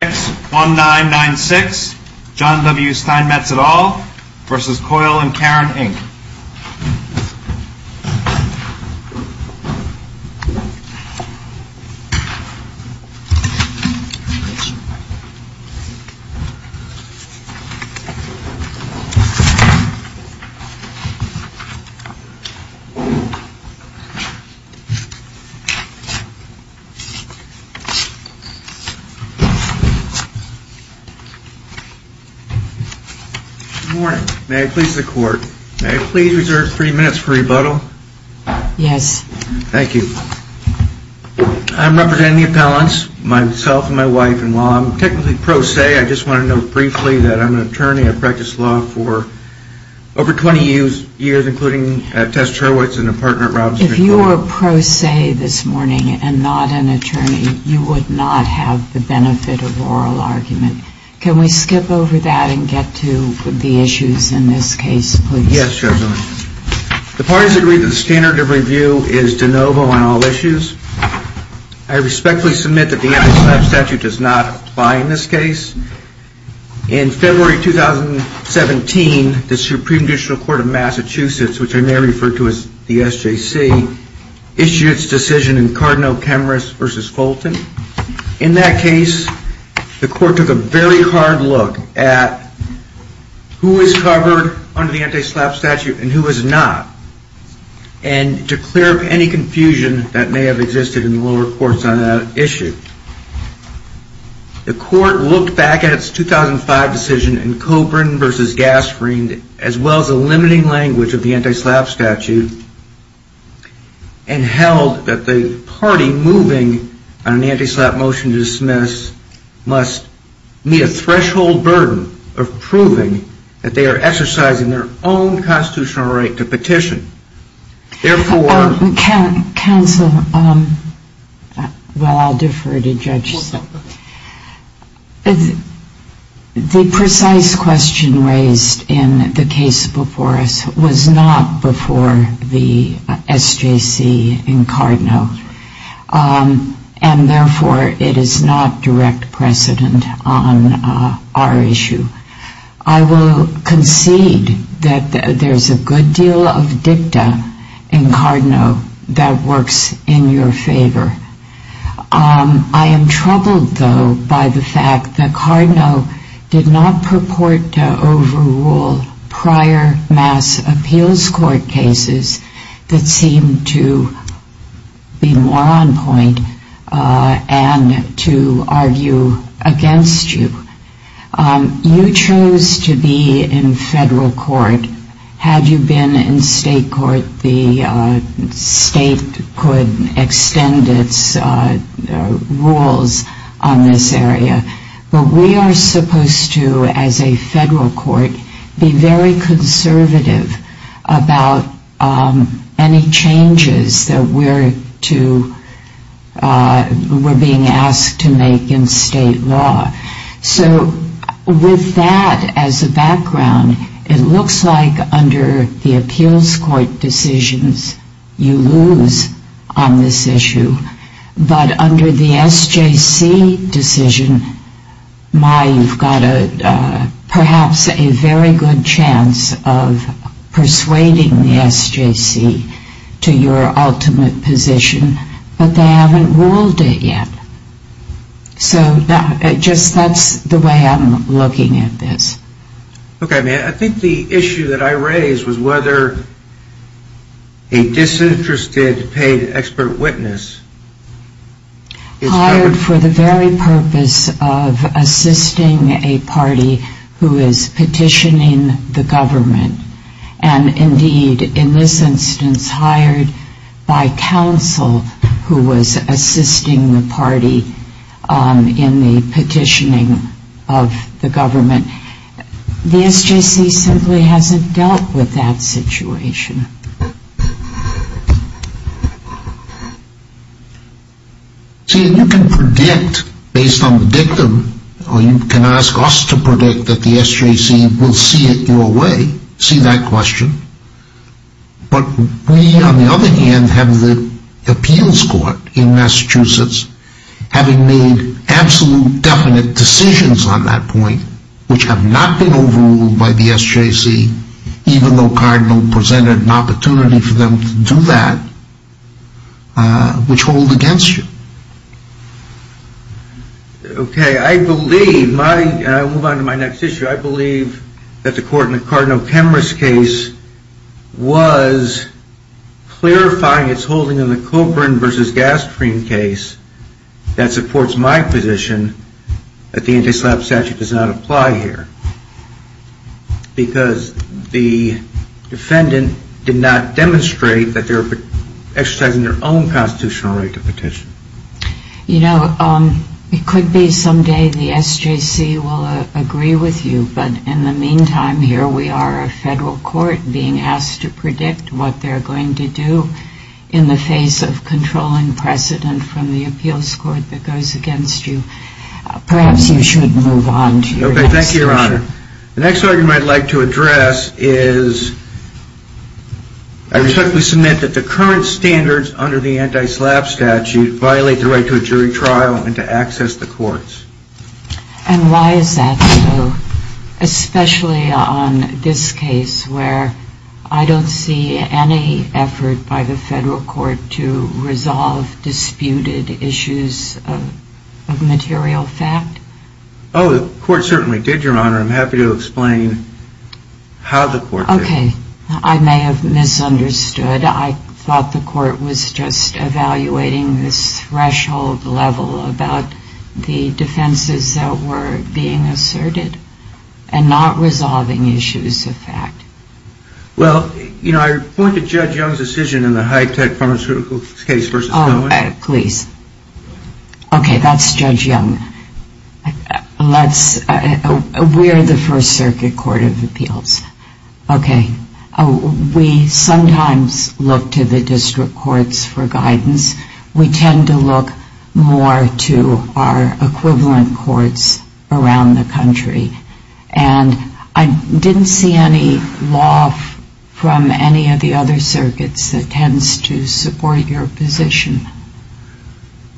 1996 John W. Steinmetz et al. v. Coyle & Caron, Inc. May I please reserve three minutes for rebuttal? Yes. Thank you. I'm representing the appellants, myself and my wife, and while I'm technically pro se, I just want to note briefly that I'm an attorney. I've practiced law for over 20 years, including at Tess Cherwitz and a partner at Robinson & Coyle. If you were pro se this morning and not an attorney, you would not have the benefit of oral argument. Can we skip over that and get to the issues in this case, please? Yes, Judge O'Connor. The parties agree that the standard of review is de novo on all issues. I respectfully submit that the anti-slap statute does not apply in this case. In February 2017, the Supreme Judicial Court of Massachusetts, which I may In that case, the court took a very hard look at who is covered under the anti-slap statute and who is not, and to clear up any confusion that may have existed in the lower courts on that issue. The court looked back at its 2005 decision in Coburn v. Gasperein, as well as the limiting language of the anti-slap statute, and held that the party moving on an anti-slap motion to dismiss must meet a threshold burden of proving that they are exercising their own constitutional right to petition. Therefore... Counsel, I'll defer to Judge Silk. The precise question raised in the case before us was not before the SJC in Cardinal, and therefore it is not direct precedent on our issue. I will concede that there's a good deal of dicta in Cardinal that works in your favor. I am troubled, though, by the fact that Cardinal did not purport to overrule prior mass appeals court cases that seemed to be more on point and to argue against you. You chose to be in federal court. Had you been in state court, the state could extend its rules on this area. But we are not aware of any changes that we're being asked to make in state law. So with that as a background, it looks like under the appeals court decisions, you lose on this issue. But under the SJC decision, my, you've got perhaps a very good chance of persuading the SJC to your ultimate position, but they haven't ruled it yet. So just that's the way I'm looking at this. Okay, I think the issue that I raised was whether a disinterested paid expert witness Hired for the very purpose of assisting a party who is petitioning the government. And indeed, in this instance, hired by counsel who was assisting the party in the petitioning of the government. The SJC simply hasn't dealt with that situation. See, you can predict based on the dictum, or you can ask us to predict that the SJC will see it your way, see that question. But we, on the other hand, have the appeals court in Massachusetts, having made absolute definite decisions on that point, which have not been overruled by the SJC, even though Cardinal presented an opportunity for them to do that, which hold against you. Okay, I believe my, and I move on to my next issue, I believe that the court in the Cardinal Supreme Court, in the case of the Oren versus Gastreen case, that supports my position that the anti-slap statute does not apply here. Because the defendant did not demonstrate that they were exercising their own constitutional right to petition. You know, it could be someday the SJC will agree with you, but in the meantime, here we are, a federal court, being asked to predict what they're going to do in the face of controlling precedent from the appeals court that goes against you. Perhaps you should move on to your next issue. Okay, thank you, Your Honor. The next argument I'd like to address is, I respectfully submit that the current standards under the anti-slap statute violate the right to a jury trial and to access the courts. And why is that so? Especially on this case, where I don't see any effort by the federal court to resolve disputed issues of material fact? Oh, the court certainly did, Your Honor. I'm happy to explain how the court did it. Okay, I may have misunderstood. I thought the court was just evaluating this threshold level about the defenses that were being asserted, and not resolving issues of fact. Well, you know, I point to Judge Young's decision in the high-tech pharmaceutical case versus the other one. Oh, please. Okay, that's Judge Young. Let's, we're the First Circuit Court of Appeals. Okay, we sometimes look to the district courts for guidance. We tend to look more to our equivalent courts around the country. And I didn't see any law from any of the other circuits that tends to support your position.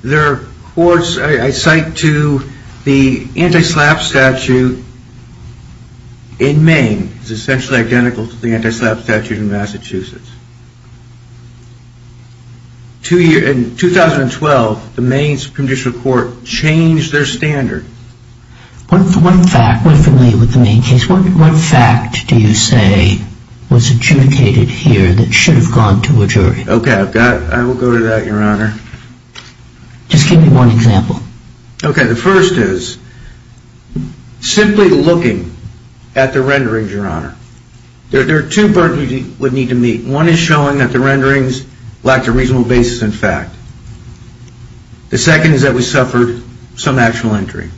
There are courts, I cite to the anti-slap statute in Maine. It's essentially identical to the anti-slap statute in Massachusetts. In 2012, the Maine Supreme District Court changed their standard. What fact, we're familiar with the Maine case, what fact do you say was adjudicated here that should have gone to a jury? Okay, I've got, I will go to that, Your Honor. Just give me one example. Okay, the first is, simply looking at the renderings, Your Honor. There are two parts we would need to meet. One is showing that the renderings lacked a reasonable basis in fact. The second is that we suffered some actual injury.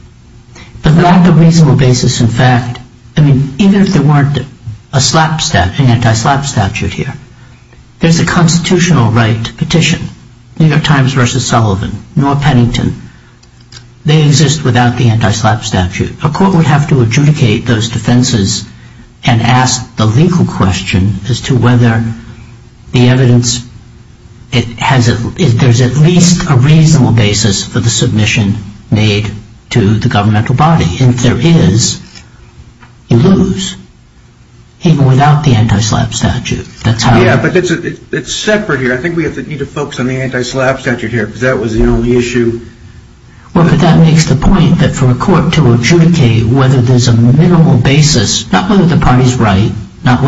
But not the reasonable basis in fact. I mean, even if there weren't a slap statute, an institutional right petition, New York Times versus Sullivan, nor Pennington, they exist without the anti-slap statute. A court would have to adjudicate those defenses and ask the legal question as to whether the evidence, there's at least a reasonable basis for the submission made to the governmental body. And if there is, you lose. Even without the anti-slap statute. Yeah, but it's separate here. I think we need to focus on the anti-slap statute here because that was the only issue. Well, but that makes the point that for a court to adjudicate whether there's a minimal basis, not whether the party's right, but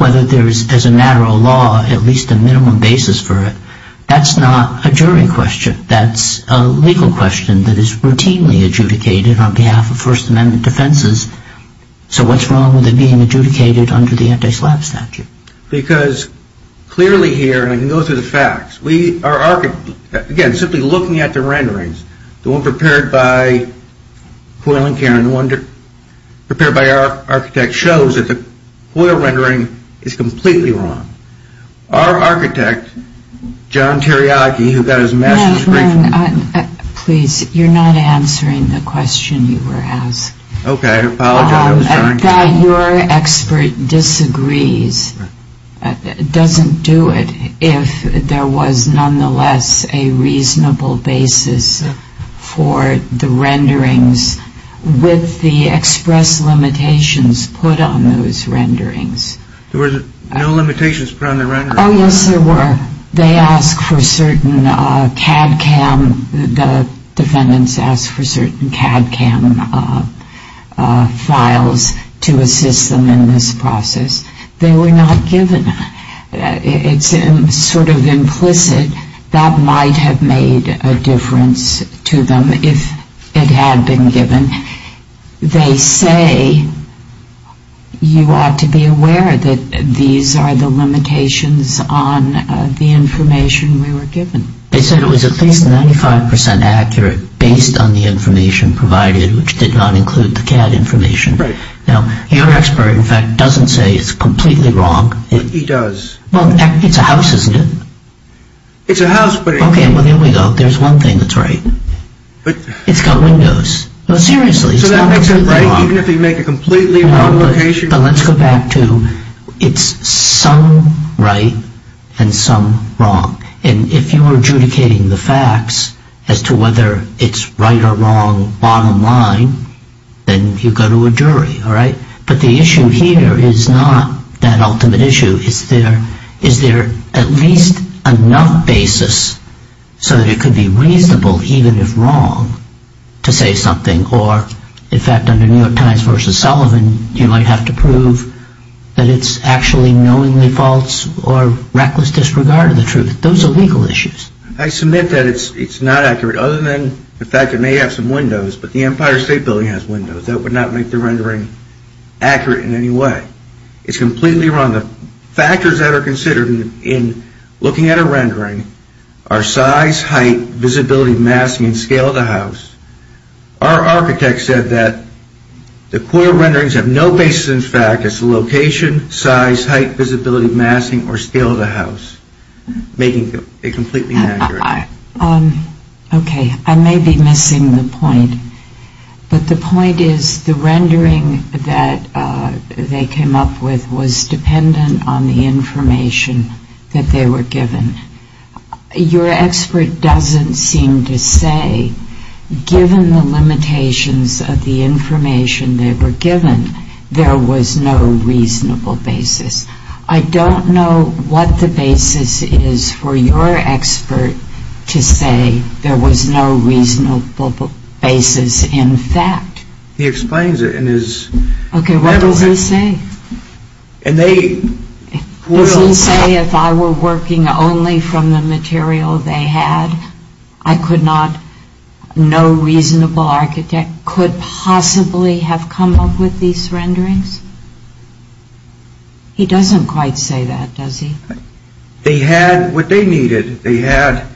whether there's, as a matter of law, at least a minimum basis for it, that's not a jury question. That's a legal question that is routinely adjudicated on behalf of First Amendment defenses. So what's wrong with it being adjudicated under the anti-slap statute? Because clearly here, and I can go through the facts, we are, again, simply looking at the renderings, the one prepared by Coyle and Cairn, the one prepared by our architect shows that the Coyle rendering is completely wrong. Our architect, John Teriyaki, who got his master's degree from... You're not answering the question you were asked. Okay. I apologize. I'm sorry. That your expert disagrees doesn't do it if there was, nonetheless, a reasonable basis for the renderings with the express limitations put on those renderings. There were no limitations put on the renderings. Oh, yes, there were. They ask for certain CAD CAM, the defendants ask for certain CAD CAM files to assist them in this process. They were not given. It's sort of implicit that might have made a difference to them if it had been given. They say you ought to be aware that these are the limitations on the information we were given. They said it was at least 95% accurate based on the information provided, which did not include the CAD information. Now, your expert, in fact, doesn't say it's completely wrong. He does. Well, it's a house, isn't it? It's a house, but... Okay, well, there we go. There's one thing that's right. But... It's got windows. No, seriously, it's not completely wrong. No, but let's go back to, it's some right and some wrong. And if you were adjudicating the facts as to whether it's right or wrong, bottom line, then you go to a jury, all right? But the issue here is not that ultimate issue. Is there at least enough basis so that it you might have to prove that it's actually knowingly false or reckless disregard of the truth. Those are legal issues. I submit that it's not accurate, other than the fact it may have some windows, but the Empire State Building has windows. That would not make the rendering accurate in any way. It's completely wrong. The factors that are considered in looking at a rendering are size, height, visibility, masking, and scale of the house. Our architect said that the quarter renderings have no basis in fact as to location, size, height, visibility, masking, or scale of the house, making it completely inaccurate. Okay, I may be missing the point, but the point is the rendering that they came up with was dependent on the information that they were given. Your expert doesn't seem to say given the limitations of the information they were given, there was no reasonable basis. I don't know what the basis is for your expert to say there was no reasonable basis in fact. He explains it in his... Okay, what does he say? Does he say if I were working only from the material they had, I could not, no reasonable architect could possibly have come up with these renderings? He doesn't quite say that, does he? They had what they needed. They had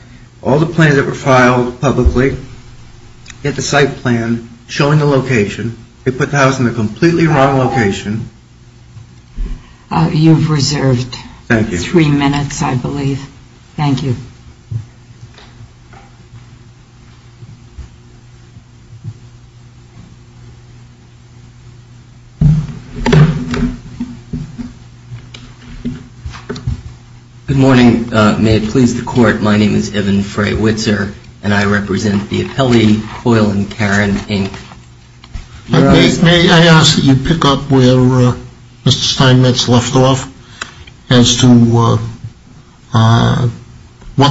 all the plans that were filed publicly. They had the site plan showing the location. They put the house in the completely wrong location. You've reserved three minutes, I believe. Thank you. Good morning. May it please the court, my name is Evan Fray-Witzer and I represent the appellee, Coyle and Karen, Inc. May I ask that you pick up where Mr. Steinmetz left off as to what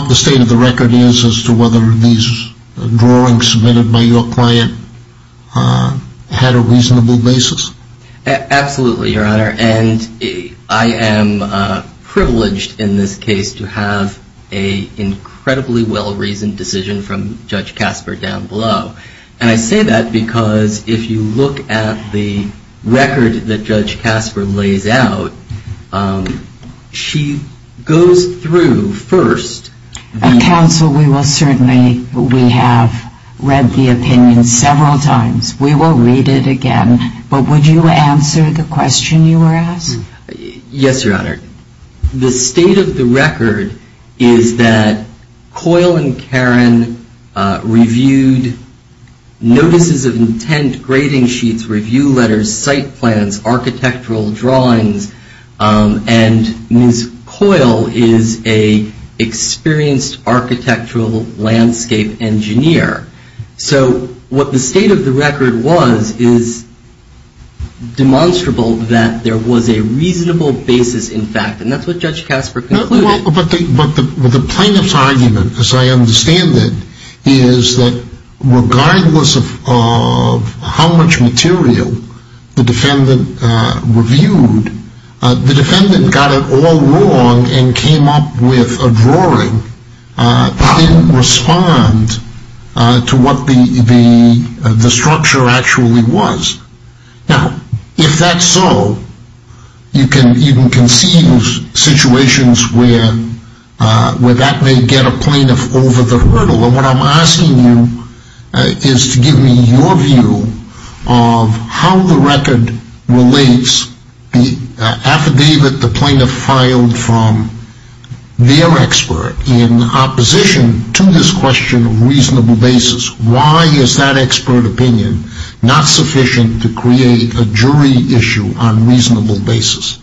the state of the record is as to whether these drawings submitted by your client had a reasonable basis? Absolutely, Your Honor. And I am privileged in this case to have an incredibly well-reasoned decision from Judge Casper down below. And I say that because if you look at the record that Judge Casper lays out, she goes through first... Counsel, we will certainly, we have read the opinion several times. We will read it again. But would you answer the question you were asked? Yes, Your Honor. The state of the record is that Coyle and Karen reviewed notices of intent, grading sheets, review letters, site plans, architectural drawings, and Ms. Coyle is an experienced architectural landscape engineer. So what the state of the record was is demonstrable that there was a reasonable basis in fact. And that's what Judge Casper concluded. But the plaintiff's argument, as I understand it, is that regardless of how much material the defendant reviewed, the defendant got it all wrong and came up with a drawing that didn't respond to what the structure actually was. Now, if that's so, you can conceive situations where that may get a plaintiff over the hurdle. And what I'm asking you is to give me your view of how the record relates, the affidavit the plaintiff filed from their expert, in opposition to this question of reasonable basis. Why is that expert opinion not sufficient to create a jury issue on reasonable basis?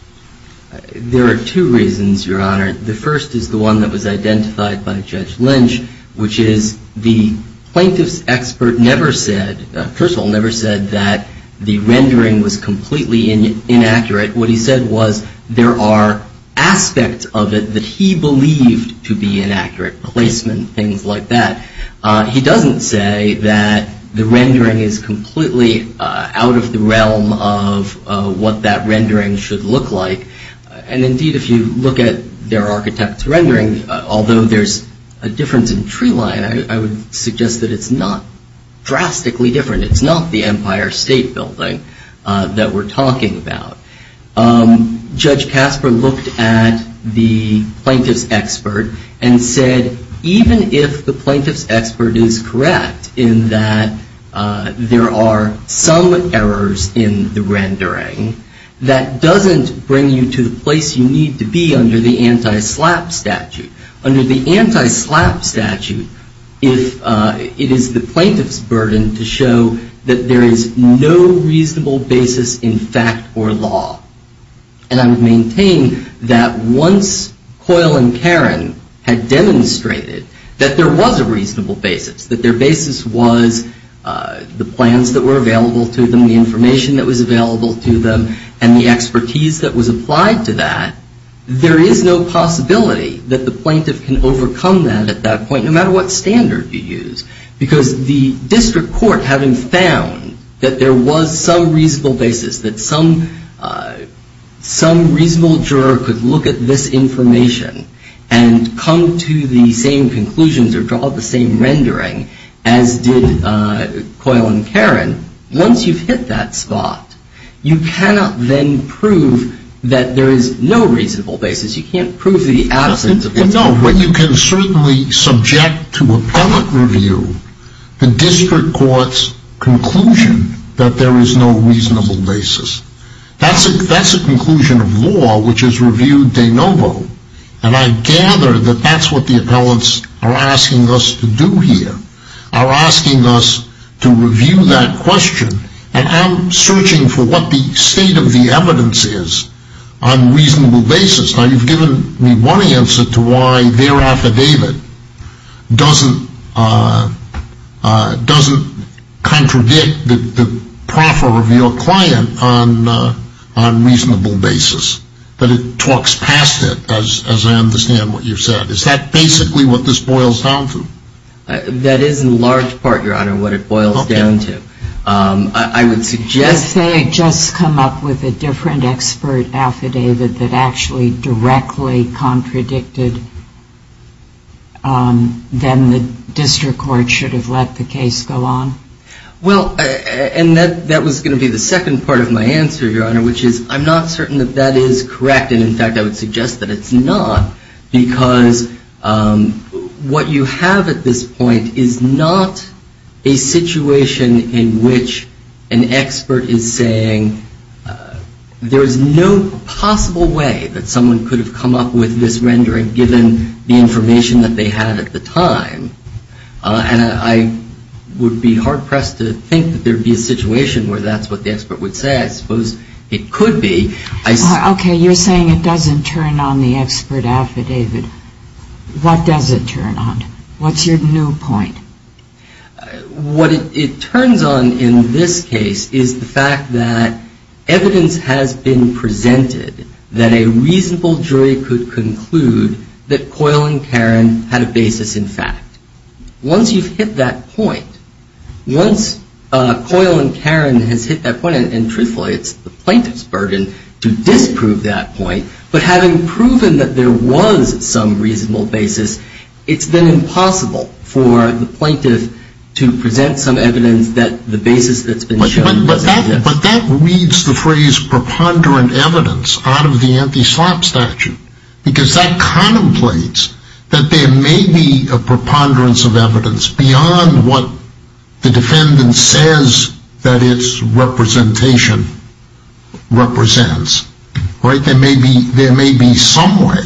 There are two reasons, Your Honor. The first is the one that was identified by Judge Lynch, which is the plaintiff's expert never said, first of all, never said that the rendering was completely inaccurate. What he said was there are aspects of it that he believed to be inaccurate, placement, things like that. He doesn't say that the rendering is completely out of the realm of what that rendering should look like. And indeed, if you look at their architect's rendering, although there's a difference in tree line, I would suggest that it's not drastically different. It's not the Empire State Building that we're talking about. Judge Casper looked at the plaintiff's expert and said even if the plaintiff's expert is correct in that there are some errors in the rendering, that doesn't bring you to the place you need to be under the anti-SLAPP statute. Under the anti-SLAPP statute, it is the plaintiff's burden to show that there is no reasonable basis in fact or law. And I would maintain that once Coyle and Karen had demonstrated that there was a reasonable basis, that their basis was the plans that were available to them, the information that was available to them, and the expertise that was applied to that, there is no possibility that the plaintiff can overcome that at that point, no matter what standard you use. Because the district court, having found that there was some reasonable basis, that some reasonable juror could look at this information and come to the same conclusions or draw the same rendering as did Coyle and Karen, once you've hit that spot, you cannot then prove that there is no reasonable basis. You can't prove the absence of what's been proven. No, but you can certainly subject to appellate review the district court's conclusion that there is no reasonable basis. That's a conclusion of law which is reviewed de novo, and I gather that that's what the appellants are asking us to do here, are asking us to review that question, and I'm searching for what the state of the evidence is on reasonable basis. Now, you've given me one answer to why their affidavit doesn't contradict the proffer of your client on reasonable basis, that it talks past it, as I understand what you've said. Is that basically what this boils down to? That is in large part, Your Honor, what it boils down to. If they had just come up with a different expert affidavit that actually directly contradicted, then the district court should have let the case go on? Well, and that was going to be the second part of my answer, Your Honor, which is I'm not certain that that is correct, and in fact I would suggest that it's not, because what you have at this point is not a situation in which an expert is saying there is no possible way that someone could have come up with this rendering given the information that they had at the time, and I would be hard-pressed to think that there would be a situation where that's what the expert would say. I suppose it could be. Okay, you're saying it doesn't turn on the expert affidavit. What does it turn on? What's your new point? What it turns on in this case is the fact that evidence has been presented that a reasonable jury could conclude that Coyle and Karen had a basis in fact. Once you've hit that point, once Coyle and Karen has hit that point, and truthfully it's the plaintiff's burden to disprove that point, but having proven that there was some reasonable basis, it's then impossible for the plaintiff to present some evidence that the basis that's been shown. But that reads the phrase preponderant evidence out of the anti-slop statute, because that contemplates that there may be a preponderance of evidence beyond what the defendant says that its representation represents. There may be some way.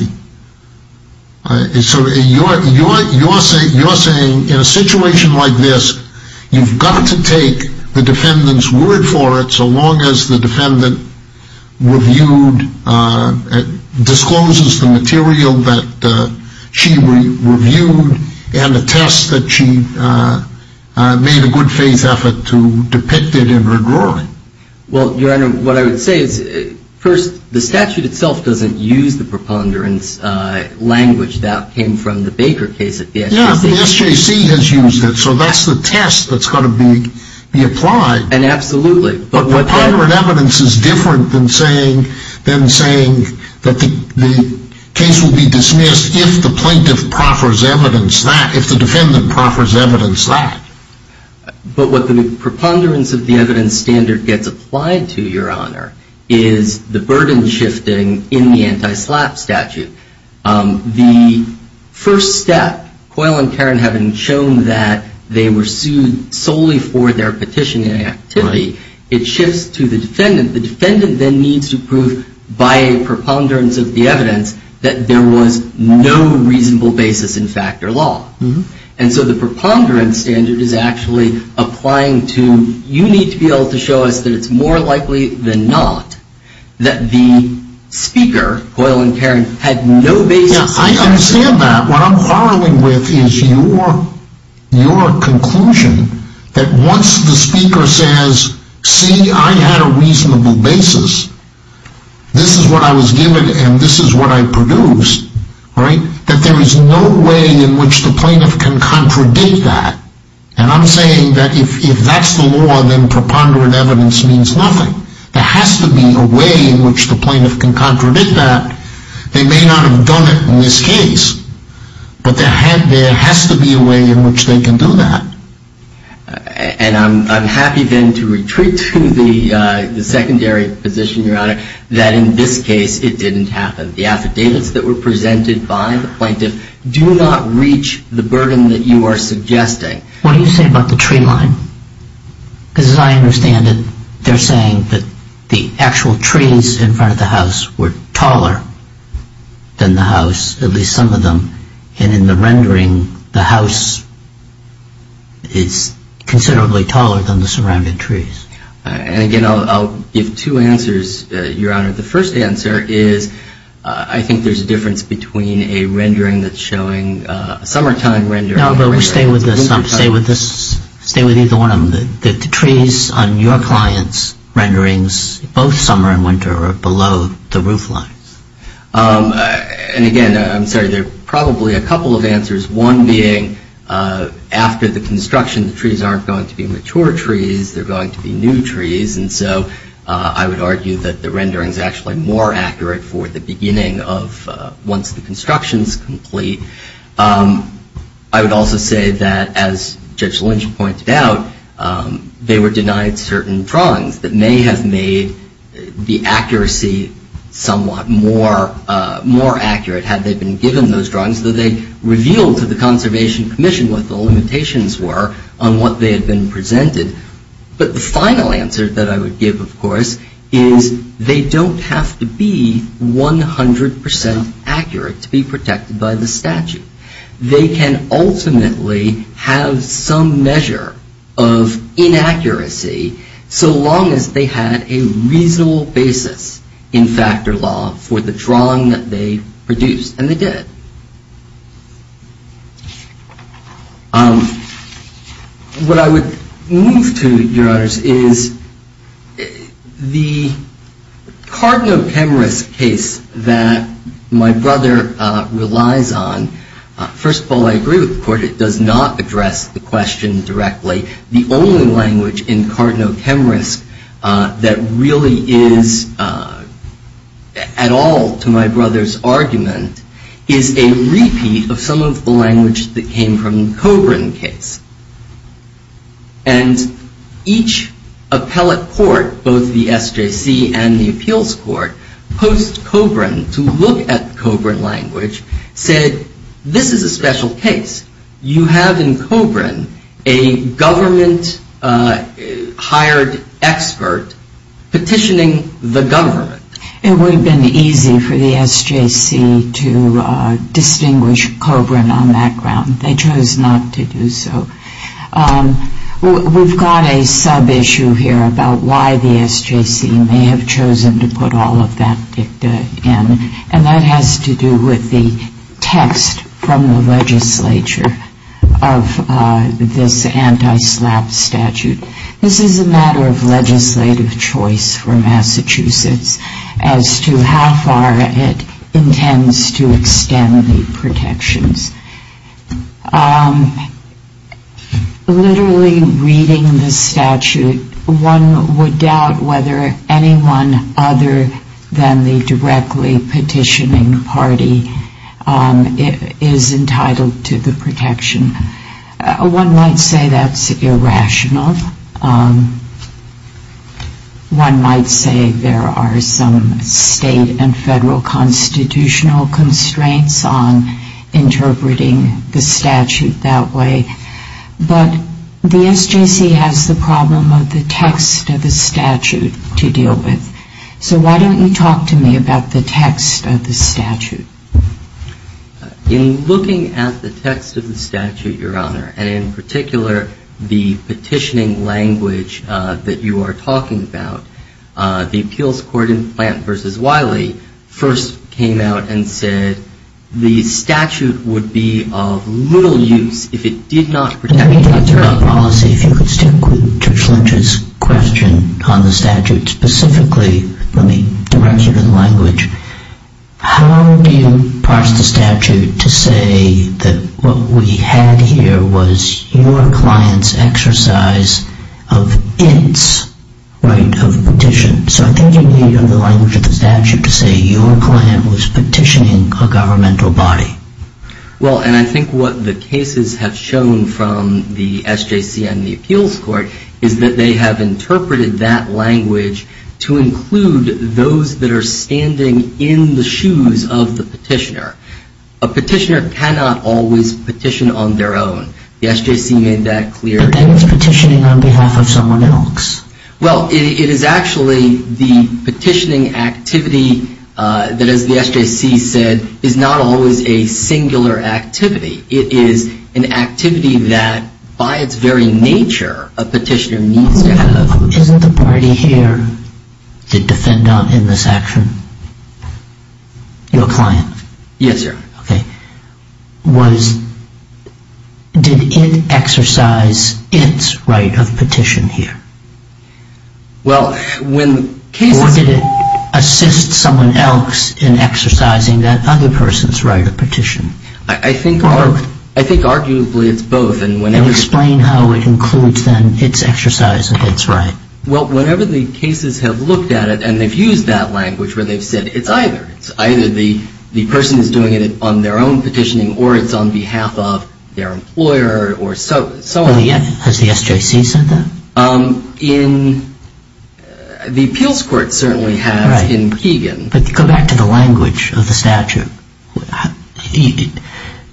So you're saying in a situation like this, you've got to take the defendant's word for it so long as the defendant discloses the material that she reviewed and attests that she made a good faith effort to depict it in her drawing. Well, Your Honor, what I would say is, first, the statute itself doesn't use the preponderance language that came from the Baker case at the SJC. Yeah, but the SJC has used it, so that's the test that's got to be applied. And absolutely. But preponderant evidence is different than saying that the case will be dismissed if the plaintiff proffers evidence that, if the defendant proffers evidence that. But what the preponderance of the evidence standard gets applied to, Your Honor, is the burden shifting in the anti-slop statute. The first step, Coyle and Karen having shown that they were sued solely for their petitioning activity, it shifts to the defendant. The defendant then needs to prove by a preponderance of the evidence that there was no reasonable basis in fact or law. And so the preponderance standard is actually applying to, you need to be able to show us that it's more likely than not that the speaker, Coyle and Karen, had no basis. Yeah, I understand that. What I'm quarreling with is your conclusion that once the speaker says, see, I had a reasonable basis, this is what I was given and this is what I produced, right, that there is no way in which the plaintiff can contradict that. And I'm saying that if that's the law, then preponderant evidence means nothing. There has to be a way in which the plaintiff can contradict that. They may not have done it in this case, but there has to be a way in which they can do that. And I'm happy then to retreat to the secondary position, Your Honor, that in this case it didn't happen. The affidavits that were presented by the plaintiff do not reach the burden that you are suggesting. What do you say about the tree line? Because as I understand it, they're saying that the actual trees in front of the house were taller than the house, at least some of them, and in the rendering the house is considerably taller than the surrounding trees. And, again, I'll give two answers, Your Honor. The first answer is I think there's a difference between a rendering that's showing a summertime rendering. No, but stay with either one of them. The trees on your client's renderings, both summer and winter, are below the roof line. And, again, I'm sorry, there are probably a couple of answers, one being after the construction the trees aren't going to be mature trees, they're going to be new trees. And so I would argue that the rendering is actually more accurate for the beginning of once the construction is complete. I would also say that, as Judge Lynch pointed out, they were denied certain drawings that may have made the accuracy somewhat more accurate had they been given those drawings that they revealed to the Conservation Commission what the limitations were on what they had been presented. But the final answer that I would give, of course, is they don't have to be 100 percent accurate to be protected by the statute. They can ultimately have some measure of inaccuracy so long as they had a reasonable basis in factor law for the drawing that they produced, and they did. What I would move to, Your Honors, is the Cardno-Chemrisk case that my brother relies on. First of all, I agree with the Court. It does not address the question directly. The only language in Cardno-Chemrisk that really is at all to my brother's argument is a repeat of some of the language that came from the Cobran case. And each appellate court, both the SJC and the Appeals Court, posed Cobran to look at Cobran language, said, this is a special case. You have in Cobran a government-hired expert petitioning the government. It would have been easy for the SJC to distinguish Cobran on that ground. They chose not to do so. We've got a sub-issue here about why the SJC may have chosen to put all of that dicta in, and that has to do with the text from the legislature of this anti-SLAPP statute. This is a matter of legislative choice for Massachusetts as to how far it intends to extend the protections. Literally reading the statute, one would doubt whether anyone other than the directly petitioning party is entitled to the protection. One might say that's irrational. One might say there are some state and federal constitutional constraints on interpreting the statute that way. But the SJC has the problem of the text of the statute to deal with. So why don't you talk to me about the text of the statute? In looking at the text of the statute, Your Honor, and in particular the petitioning language that you are talking about, the appeals court in Plant v. Wiley first came out and said the statute would be of little use if it did not protect the federal policy. If you could stick to Judge Lynch's question on the statute specifically, let me direct you to the language. How do you parse the statute to say that what we had here was your client's exercise of its right of petition? So I think you need the language of the statute to say your client was petitioning a governmental body. Well, and I think what the cases have shown from the SJC and the appeals court is that they have interpreted that language to include those that are standing in the shoes of the petitioner. A petitioner cannot always petition on their own. The SJC made that clear. And it's petitioning on behalf of someone else. Well, it is actually the petitioning activity that, as the SJC said, is not always a singular activity. It is an activity that, by its very nature, a petitioner needs to have. Isn't the party here the defendant in this action? Your client? Yes, Your Honor. Okay. Did it exercise its right of petition here? Well, when cases... I think arguably it's both. Explain how it includes then its exercise of its right. Well, whenever the cases have looked at it and they've used that language where they've said it's either. It's either the person is doing it on their own petitioning or it's on behalf of their employer or so on. Has the SJC said that? The appeals court certainly has in Keegan. But go back to the language of the statute.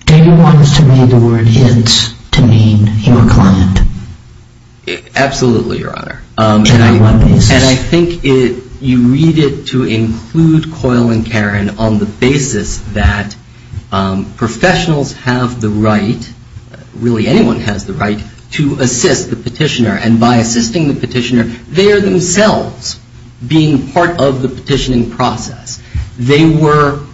Do you want us to read the word it's to mean your client? Absolutely, Your Honor. And I want this. And I think you read it to include Coyle and Karen on the basis that professionals have the right, really anyone has the right, to assist the petitioner. And by assisting the petitioner, they are themselves being part of the petitioning process. They were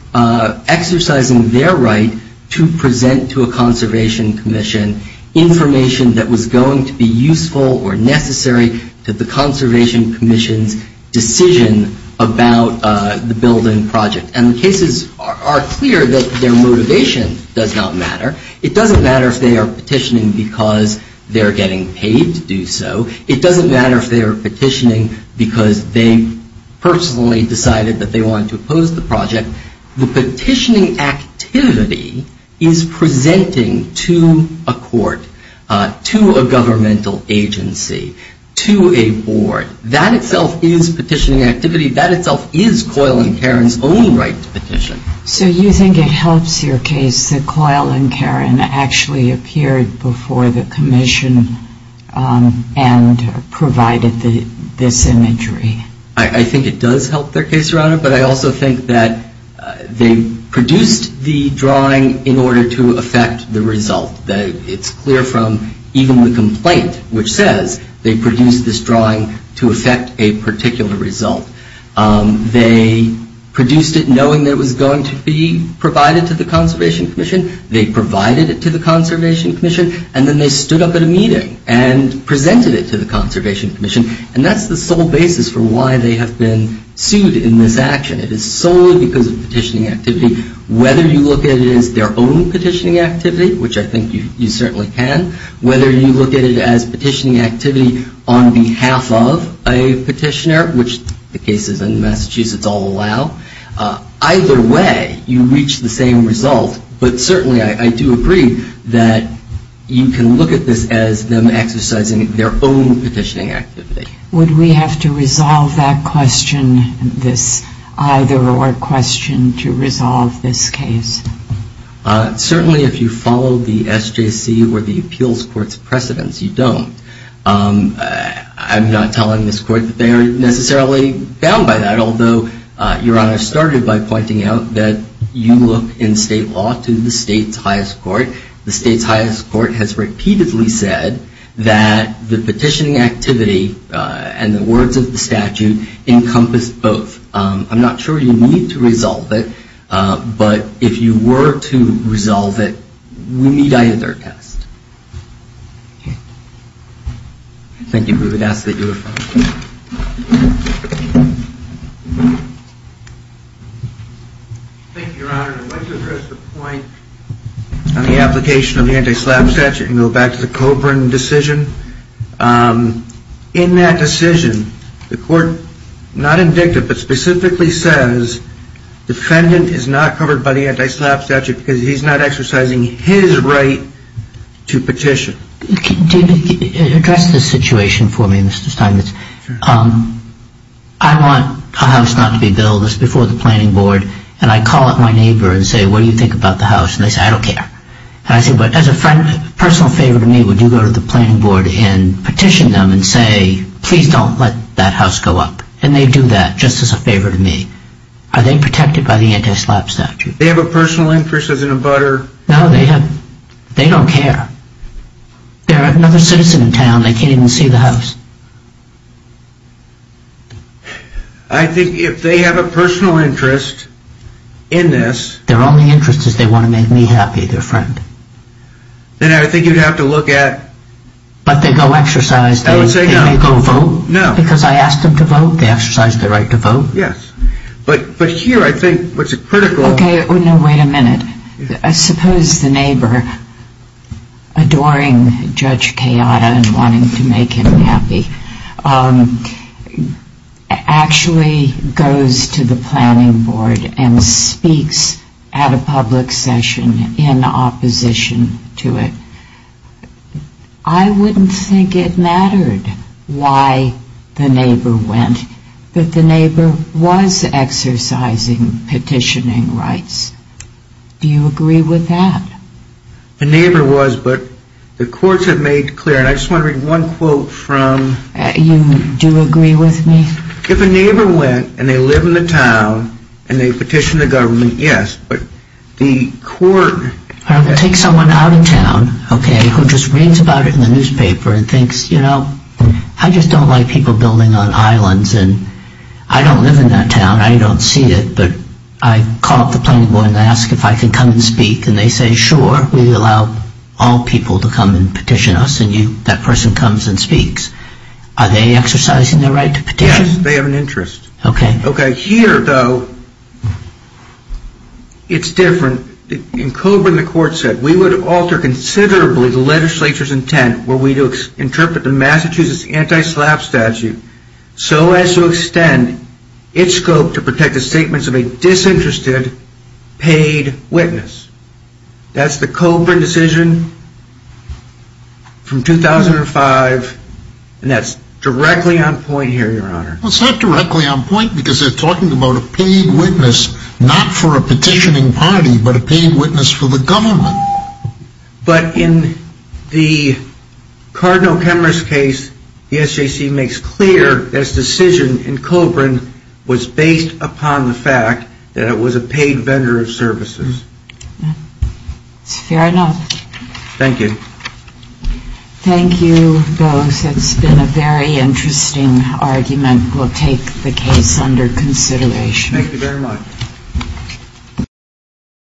exercising their right to present to a conservation commission information that was going to be useful or necessary to the conservation commission's decision about the building project. And the cases are clear that their motivation does not matter. It doesn't matter if they are petitioning because they're getting paid to do so. It doesn't matter if they are petitioning because they personally decided that they wanted to oppose the project. The petitioning activity is presenting to a court, to a governmental agency, to a board. That itself is petitioning activity. That itself is Coyle and Karen's own right to petition. So you think it helps your case that Coyle and Karen actually appeared before the commission and provided this imagery? I think it does help their case, Your Honor. But I also think that they produced the drawing in order to affect the result. It's clear from even the complaint, which says they produced this drawing to affect a particular result. They produced it knowing that it was going to be provided to the conservation commission. They provided it to the conservation commission. And then they stood up at a meeting and presented it to the conservation commission. And that's the sole basis for why they have been sued in this action. It is solely because of petitioning activity, whether you look at it as their own petitioning activity, which I think you certainly can, whether you look at it as petitioning activity on behalf of a petitioner, which the cases in Massachusetts all allow, either way you reach the same result. But certainly I do agree that you can look at this as them exercising their own petitioning activity. Would we have to resolve that question, this either or question, to resolve this case? Certainly if you follow the SJC or the appeals court's precedence, you don't. I'm not telling this court that they are necessarily bound by that, although Your Honor started by pointing out that you look in state law to the state's highest court. The state's highest court has repeatedly said that the petitioning activity and the words of the statute encompass both. I'm not sure you need to resolve it. But if you were to resolve it, we need either test. Thank you. We would ask that you refer. Thank you, Your Honor. I'd like to address the point on the application of the anti-SLAPP statute and go back to the Coburn decision. In that decision, the court, not indicted, but specifically says, defendant is not covered by the anti-SLAPP statute because he's not exercising his right to petition. Address this situation for me, Mr. Steinmetz. I want a house not to be built. It's before the planning board. And I call up my neighbor and say, what do you think about the house? And they say, I don't care. And I say, but as a personal favor to me, would you go to the planning board and petition them and say, please don't let that house go up? And they do that just as a favor to me. Are they protected by the anti-SLAPP statute? They have a personal interest as in a butter? No, they don't care. They're another citizen in town. They can't even see the house. I think if they have a personal interest in this. Their only interest is they want to make me happy, their friend. Then I think you'd have to look at. But they go exercise. I would say no. They may go vote. No. Because I asked them to vote. They exercise their right to vote. Yes. But here I think what's critical. Okay. Wait a minute. I suppose the neighbor, adoring Judge Kayada and wanting to make him happy, actually goes to the planning board and speaks at a public session in opposition to it. I wouldn't think it mattered why the neighbor went. But the neighbor was exercising petitioning rights. Do you agree with that? The neighbor was. But the courts have made clear. And I just want to read one quote from. You do agree with me? If a neighbor went and they live in the town and they petition the government, yes. But the court. Take someone out of town, okay, who just reads about it in the newspaper and thinks, you know, I just don't like people building on islands. And I don't live in that town. I don't see it. But I call up the planning board and ask if I can come and speak. And they say, sure, we allow all people to come and petition us. And that person comes and speaks. Are they exercising their right to petition? Yes. They have an interest. Okay. Okay. Here, though, it's different. In Coburn, the court said we would alter considerably the legislature's intent where we interpret the Massachusetts anti-slap statute so as to extend its scope to protect the statements of a disinterested paid witness. That's the Coburn decision from 2005. And that's directly on point here, Your Honor. It's not directly on point because they're talking about a paid witness not for a petitioning party but a paid witness for the government. But in the Cardinal Kemmerer's case, the SJC makes clear that its decision in Coburn was based upon the fact that it was a paid vendor of services. It's fair enough. Thank you. Thank you, both. It's been a very interesting argument. We'll take the case under consideration. Thank you very much.